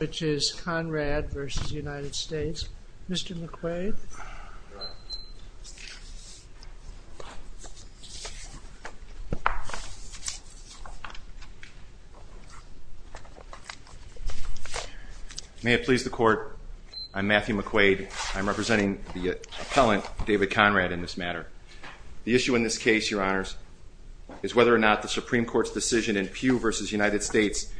May it please the Court, I'm Matthew McQuaid. I'm representing the appellant, David Conrad, in this matter. The issue in this case, Your Honors, is whether or not the Supreme Court's decision in Pugh v. United States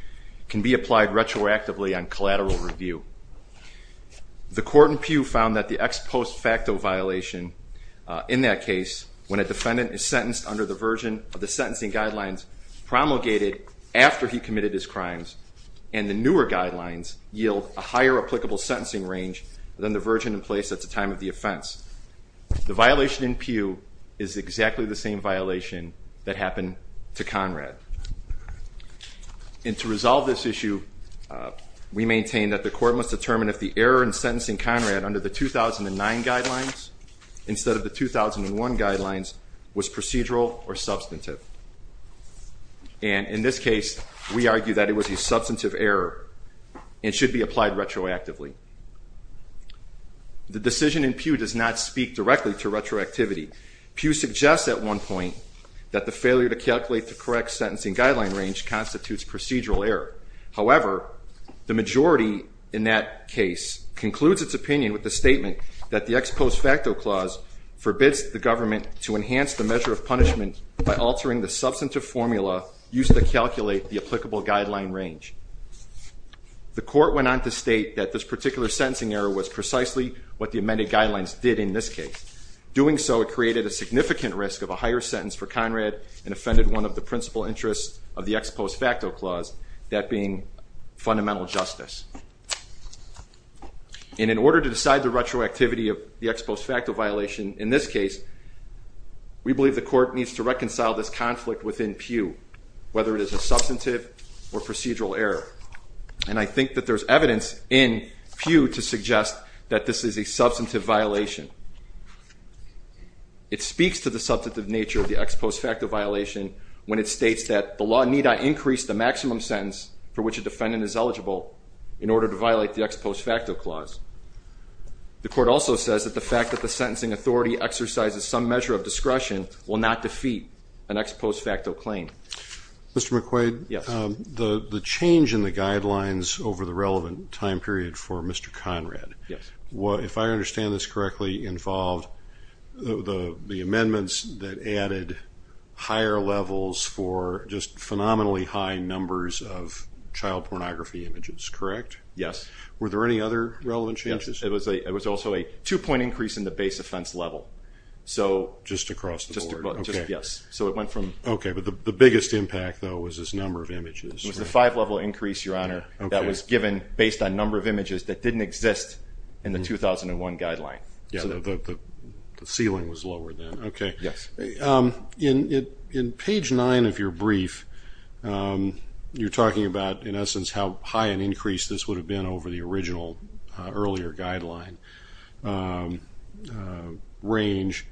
can be applied retroactively on collateral review. The Court in Pugh found that the ex post facto violation in that case, when a defendant is sentenced under the version of the sentencing guidelines promulgated after he committed his crimes and the newer guidelines yield a higher applicable sentencing range than the version in place at the time of the offense. The violation in Pugh is exactly the same violation that And to resolve this issue, we maintain that the Court must determine if the error in sentencing Conrad under the 2009 guidelines instead of the 2001 guidelines was procedural or substantive. And in this case, we argue that it was a substantive error and should be applied retroactively. The decision in Pugh does not speak directly to retroactivity. Pugh suggests at one point that the failure to calculate the correct sentencing guideline range constitutes procedural error. However, the majority in that case concludes its opinion with the statement that the ex post facto clause forbids the government to enhance the measure of punishment by altering the substantive formula used to calculate the applicable guideline range. The Court went on to state that this particular sentencing error was precisely what the amended guidelines did in this case. Doing so, it created a significant risk of a higher sentence for Conrad and offended one of the principal interests of the ex post facto clause, that being fundamental justice. And in order to decide the retroactivity of the ex post facto violation in this case, we believe the Court needs to reconcile this conflict within Pugh, whether it is a substantive or procedural error. And I think that there's evidence in Pugh to suggest that this is a It speaks to the substantive nature of the ex post facto violation when it states that the law need not increase the maximum sentence for which a defendant is eligible in order to violate the ex post facto clause. The Court also says that the fact that the sentencing authority exercises some measure of discretion will not defeat an ex post facto claim. Mr. McQuaid, the change in the guidelines over the relevant time period for Mr. Conrad, if I understand this correctly, involved the amendments that added higher levels for just phenomenally high numbers of child pornography images, correct? Yes. Were there any other relevant changes? Yes. It was also a two-point increase in the base offense level. Just across the board? Yes. So it went from... Okay. But the biggest impact, though, was this number of images. It was the five-level increase, Your Honor, that was given based on number of images that didn't exist in the 2001 guideline. So the ceiling was lower then. Okay. Yes. In page nine of your brief, you're talking about, in essence, how high an increase this would have been over the original earlier guideline range.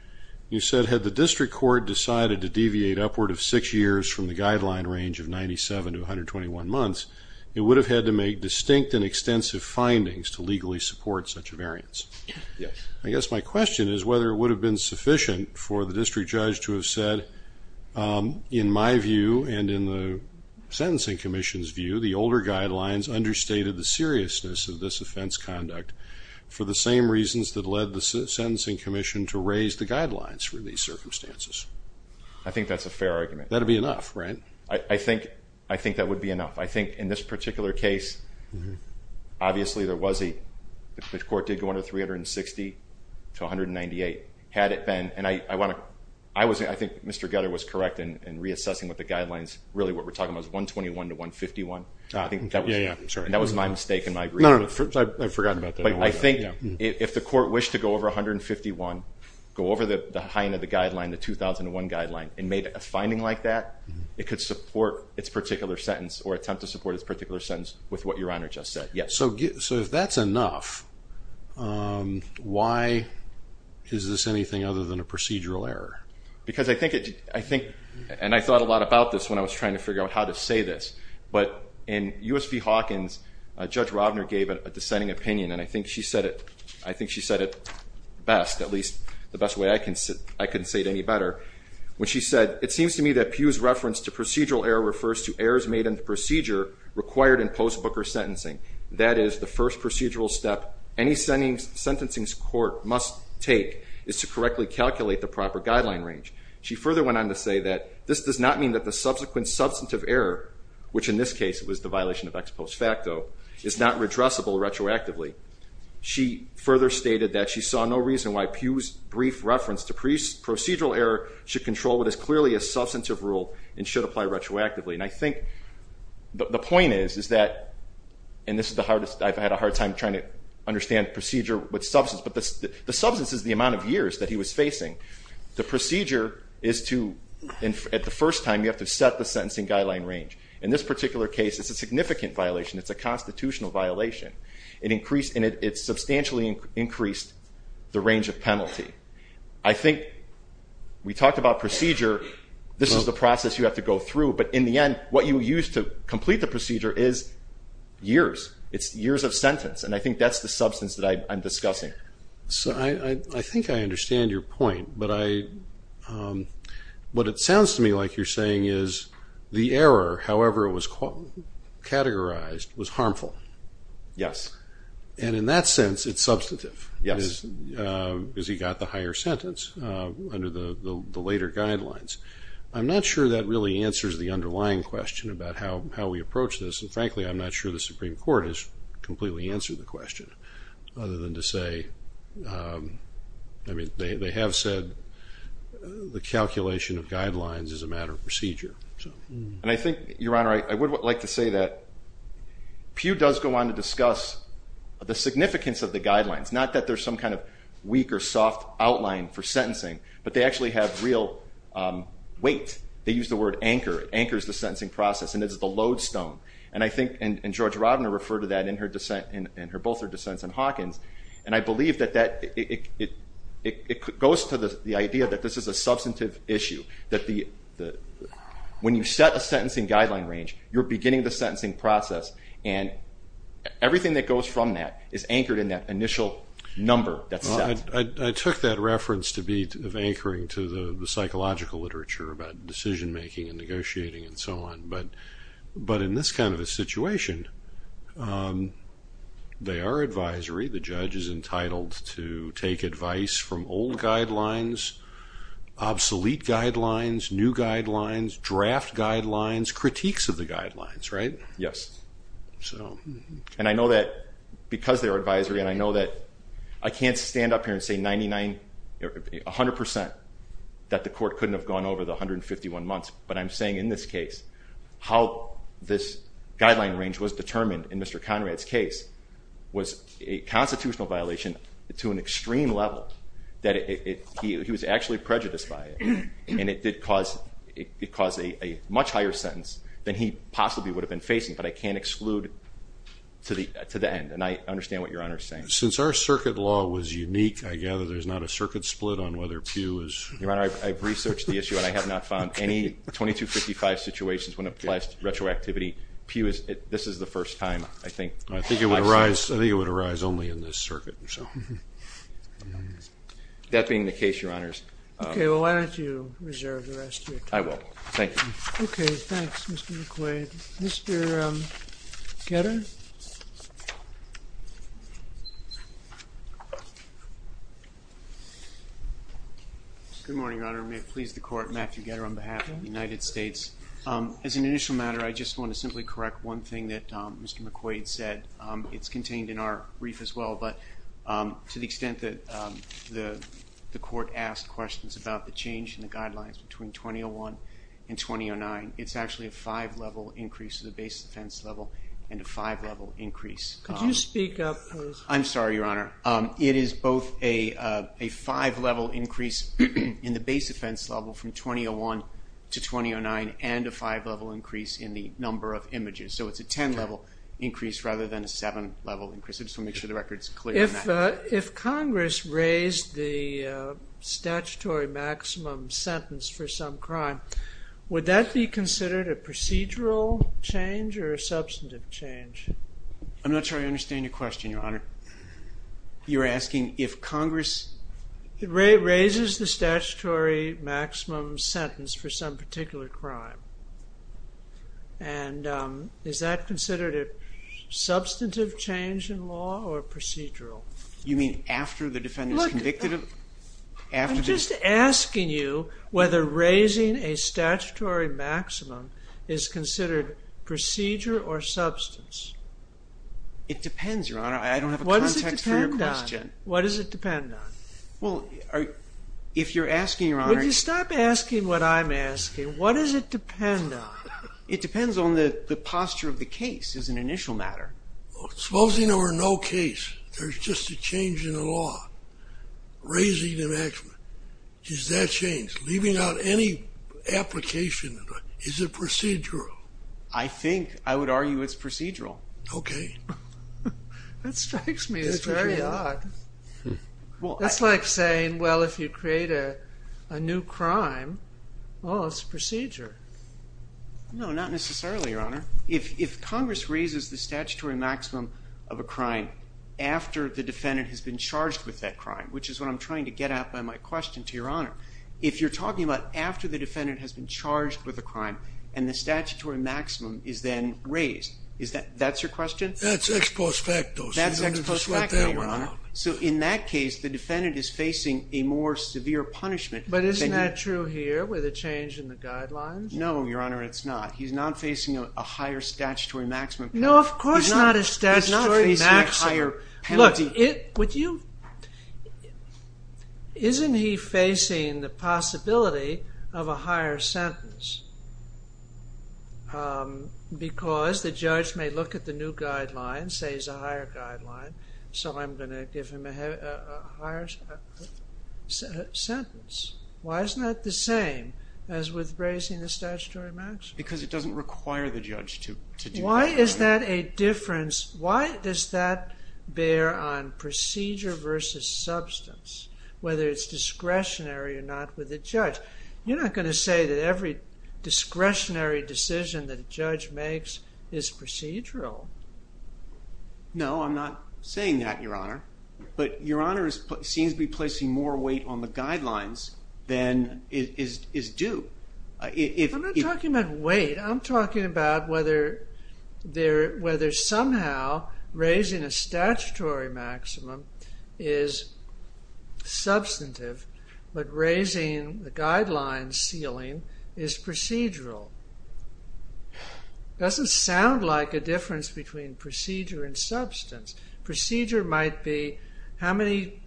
You said, had the district court decided to deviate upward of six years from the guideline range of 97 to 121 months, it would have had to make distinct and extensive findings to legally support such a variance. Yes. I guess my question is whether it would have been sufficient for the district judge to have said, in my view and in the Sentencing Commission's view, the older guidelines understated the seriousness of this offense conduct for the same reasons that led the Sentencing Commission to raise the guidelines for these circumstances. I think that's a fair argument. That would be enough, right? I think that would be enough. I think in this particular case, obviously, the court did go under 360 to 198. Had it been, and I think Mr. Gutter was correct in reassessing what the guidelines, really what we're talking about is 121 to 151. Yeah, yeah. I'm sorry. That was my mistake and my agreement. No, no. I forgot about that. I think if the court wished to go over 151, go over the high end of the guideline, the 2001 guideline, and made a finding like that, it could support its particular sentence or attempt to support its particular sentence with what Your Honor just said. Yeah. So if that's enough, why is this anything other than a procedural error? Because I think, and I thought a lot about this when I was trying to figure out how to say this, but in USP Hawkins, Judge Robner gave a dissenting opinion and I think she said it best, at least the best way I can say it, I couldn't say it any better, when she said, it seems to me that Pew's reference to procedural error refers to errors made in the procedure required in post-Booker sentencing. That is, the first procedural step any sentencing court must take is to correctly calculate the proper guideline range. She further went on to say that this does not mean that the subsequent substantive error, which in this case was the violation of ex post facto, is not redressable retroactively. She further stated that she saw no reason why Pew's brief reference to procedural error should control what is clearly a substantive rule and should apply retroactively. And I think the point is, is that, and this is the hardest, I've had a hard time trying to understand procedure with substance, but the substance is the amount of years that he was facing. The procedure is to, at the first time, you have to set the sentencing guideline range. In this particular case, it's a significant violation. It's a constitutional violation. It increased, and it substantially increased the range of penalty. I think we talked about procedure. This is the process you have to go through. But in the end, what you use to complete the procedure is years. It's years of sentence. And I think that's the substance that I'm discussing. So I think I understand your point. But I, what it sounds to me like you're saying is the error, however it was categorized, was harmful. Yes. And in that sense, it's substantive. Yes. Because he got the higher sentence under the later guidelines. I'm not sure that really answers the underlying question about how we approach this. And frankly, I'm not sure the Supreme Court has completely answered the question, other than to say, I mean, they have said the calculation of guidelines is a matter of procedure. And I think, Your Honor, I would like to say that Pew does go on to discuss the significance of the guidelines. Not that there's some kind of weak or soft outline for sentencing. But they actually have real weight. They use the word anchor. It anchors the sentencing process. And it's the lodestone. And I think, and George Rodner referred to that in her dissent, in both her dissents and Hawkins. And I believe that it goes to the idea that this is a substantive issue. That when you set a sentencing guideline range, you're beginning the sentencing process. And everything that goes from that is anchored in that initial number that's set. I took that reference to be of anchoring to the psychological literature about decision making and negotiating and so on. But in this kind of a situation, they are advisory. The judge is entitled to take advice from old guidelines, obsolete guidelines, new guidelines, draft guidelines, critiques of the guidelines, right? Yes. And I know that because they're advisory, and I know that I can't stand up here and say 99, 100% that the court couldn't have gone over the 151 months. But I'm saying in this case, how this guideline range was determined in Mr. Conrad's case was a constitutional violation to an extreme level. That he was actually prejudiced by it. And it did cause a much higher sentence than he possibly would have been facing. But I can't exclude to the end. And I understand what Your Honor is saying. Since our circuit law was unique, I gather there's not a circuit split on whether Pew is. Your Honor, I've researched the issue, and I have not found any 2255 situations when it applies to retroactivity. Pew is, this is the first time, I think. I think it would arise only in this circuit, so. That being the case, Your Honors. Okay. Well, why don't you reserve the rest of your time? I will. Thank you. Okay. Thanks, Mr. McQuaid. Mr. Getter? Good morning, Your Honor. May it please the court, Matthew Getter on behalf of the United States. As an initial matter, I just want to simply correct one thing that Mr. McQuaid said. It's contained in our brief as well. But to the extent that the court asked questions about the change in the guidelines between 2001 and 2009, it's actually a five-level increase to the base defense level and a five-level increase. Could you speak up, please? I'm sorry, Your Honor. It is both a five-level increase in the base offense level from 2001 to 2009 and a five-level increase in the number of images. So it's a 10-level increase rather than a seven-level increase. I just want to make sure the record's clear on that. If Congress raised the statutory maximum sentence for some crime, would that be considered a procedural change or a substantive change? I'm not sure I understand your question, Your Honor. You're asking if Congress— Raises the statutory maximum sentence for some particular crime. And is that considered a substantive change in law or procedural? You mean after the defendant's convicted of— Look, I'm just asking you whether raising a statutory maximum is considered procedure or substance. It depends, Your Honor. I don't have a context for your question. What does it depend on? Well, if you're asking, Your Honor— Would you stop asking what I'm asking? What does it depend on? It depends on the posture of the case as an initial matter. Supposing there were no case, there's just a change in the law, raising the maximum. Does that change? Leaving out any application, is it procedural? I think. I would argue it's procedural. Okay. That strikes me as very odd. Well, I— That's like saying, well, if you create a new crime, well, it's procedure. No, not necessarily, Your Honor. If Congress raises the statutory maximum of a crime after the defendant has been charged with that crime, which is what I'm trying to get at by my question to Your Honor, if you're talking about after the defendant has been charged with a crime and the statutory maximum is then raised, is that—that's your question? That's ex post facto. That's ex post facto, Your Honor. In that case, the defendant is facing a more severe punishment. But isn't that true here with a change in the guidelines? No, Your Honor, it's not. He's not facing a higher statutory maximum. No, of course not a statutory maximum. He's not facing a higher penalty. Look, it—would you—isn't he facing the possibility of a higher sentence? Because the judge may look at the new guidelines, say it's a higher guideline. So I'm going to give him a higher sentence. Why isn't that the same as with raising the statutory maximum? Because it doesn't require the judge to do that. Why is that a difference? Why does that bear on procedure versus substance, whether it's discretionary or not with a judge? You're not going to say that every discretionary decision that a judge makes is procedural. No, I'm not saying that, Your Honor. But Your Honor seems to be placing more weight on the guidelines than is due. I'm not talking about weight. I'm talking about whether somehow raising a statutory maximum is substantive, but raising the guidelines ceiling is procedural. It doesn't sound like a difference between procedure and substance. Procedure might be how many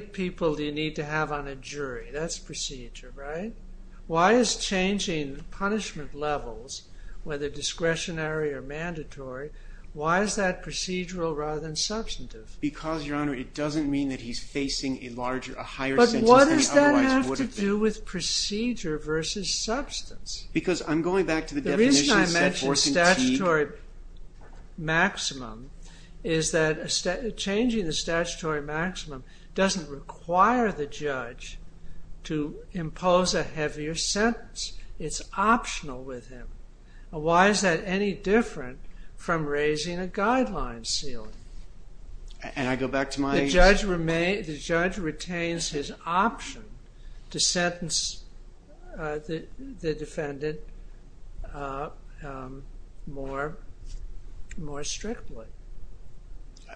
people do you need to have on a jury? That's procedure, right? Why is changing punishment levels, whether discretionary or mandatory, why is that procedural rather than substantive? Because, Your Honor, it doesn't mean that he's facing a larger, a higher sentence than he otherwise would have been. It has to do with procedure versus substance. Because I'm going back to the definition of subvorsantee. The reason I mentioned statutory maximum is that changing the statutory maximum doesn't require the judge to impose a heavier sentence. It's optional with him. Why is that any different from raising a guideline ceiling? And I go back to my... The judge retains his option to sentence the defendant more strictly.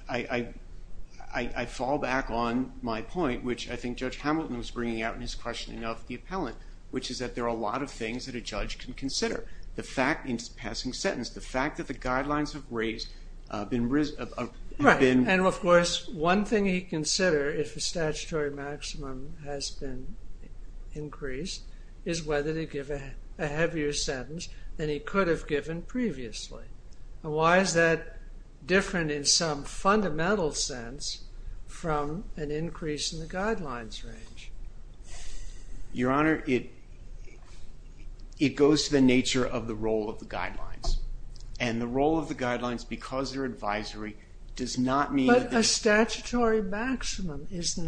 I fall back on my point, which I think Judge Hamilton was bringing out in his questioning of the appellant, which is that there are a lot of things that a judge can consider. The fact, in passing sentence, the fact that the guidelines have raised, have been... Right, and of course, one thing he'd consider if the statutory maximum has been increased is whether to give a heavier sentence than he could have given previously. Why is that different in some fundamental sense from an increase in the guidelines range? Your Honor, it goes to the nature of the role of the guidelines. And the role of the guidelines, because they're advisory, does not mean... But a statutory maximum does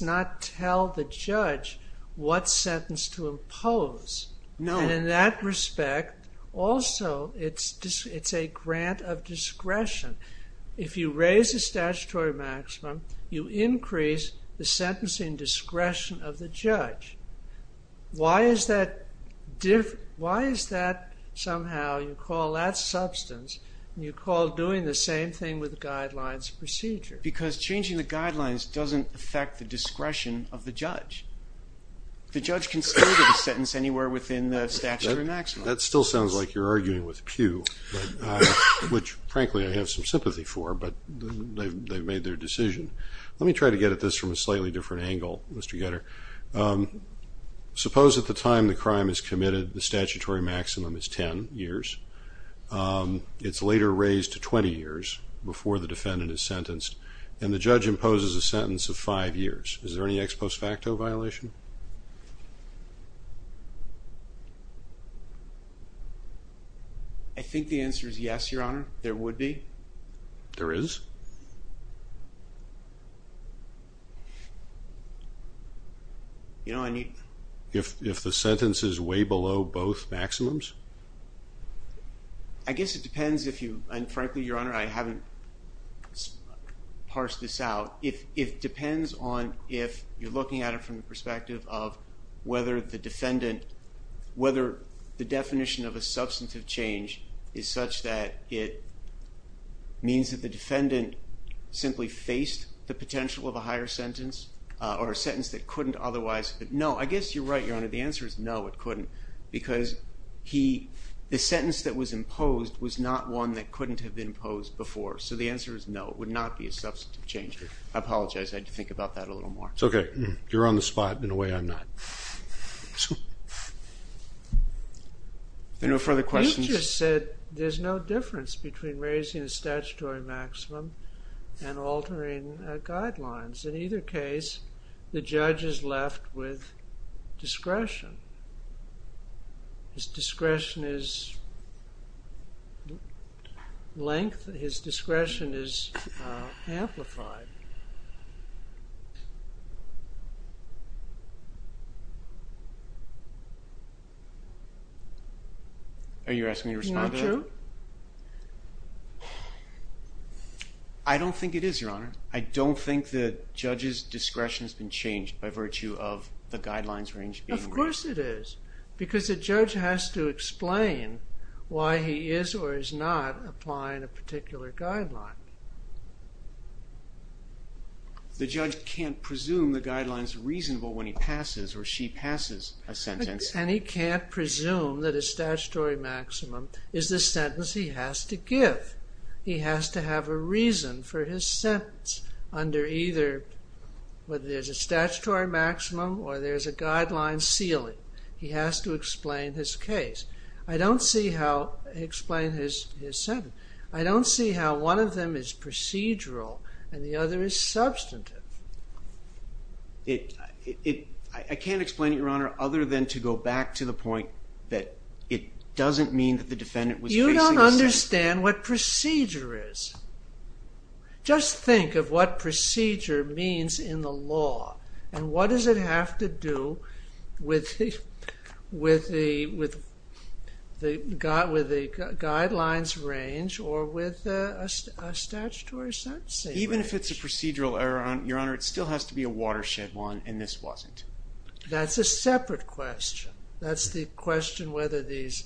not tell the judge what sentence to impose. And in that respect, also, it's a grant of discretion. If you raise the statutory maximum, you increase the sentencing discretion of the judge. Why is that somehow, you call that substance, and you call doing the same thing with the guidelines procedure? Because changing the guidelines doesn't affect the discretion of the judge. The judge can still give a sentence anywhere within the statutory maximum. That still sounds like you're arguing with Pew, which, frankly, I have some sympathy for, but they've made their decision. Let me try to get at this from a slightly different angle, Mr. Getter. Suppose at the time the crime is committed, the statutory maximum is 10 years. It's later raised to 20 years before the defendant is sentenced, and the judge imposes a sentence of five years. Is there any ex post facto violation? I think the answer is yes, Your Honor. There would be. There is? If the sentence is way below both maximums? I guess it depends if you, and frankly, Your Honor, I haven't parsed this out. It depends on if you're looking at it from the perspective of whether the defendant, whether the definition of a substantive change is such that it means that the defendant simply faced the potential of a higher sentence or a sentence that couldn't otherwise. No, I guess you're right, Your Honor. The answer is no, it couldn't because the sentence that was imposed was not one that couldn't have been imposed before, so the answer is no. It would not be a substantive change. I apologize. I had to think about that a little more. It's okay. You're on the spot. In a way, I'm not. Are there no further questions? You just said there's no difference between raising the statutory maximum and altering guidelines. In either case, the judge is left with discretion. His discretion is length. His discretion is amplified. Are you asking me to respond? Aren't you? I don't think it is, Your Honor. I don't think the judge's discretion has been changed by virtue of the guidelines range. Of course it is because the judge has to explain why he is or is not applying a particular guideline. The judge can't presume the guideline is reasonable when he passes or she passes a sentence. And he can't presume that his statutory maximum is the sentence he has to give. He has to have a reason for his sentence under either whether there's a statutory maximum or there's a guideline ceiling. He has to explain his case. I don't see how he explains his sentence. I don't see how one of them is procedural and the other is substantive. I can't explain it, Your Honor, other than to go back to the point that it doesn't mean that the defendant was facing a sentence. Understand what procedure is. Just think of what procedure means in the law. And what does it have to do with the guidelines range or with a statutory sentencing? Even if it's a procedural error, Your Honor, it still has to be a watershed one and this wasn't. That's a separate question. That's the question whether these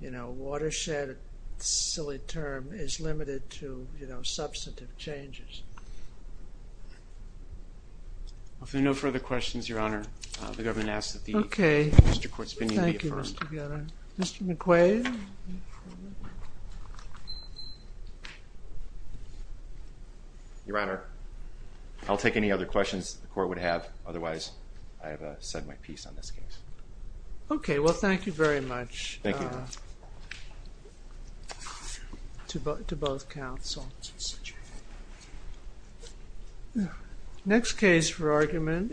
watershed, silly term, is limited to substantive changes. If there are no further questions, Your Honor, the government asks that the Mr. Court's opinion be affirmed. Mr. McQuaid. Your Honor, I'll take any other questions the court would have. Otherwise, I have said my piece on this case. Okay. Well, thank you very much. Thank you, Your Honor. To both counsels. Next case for argument is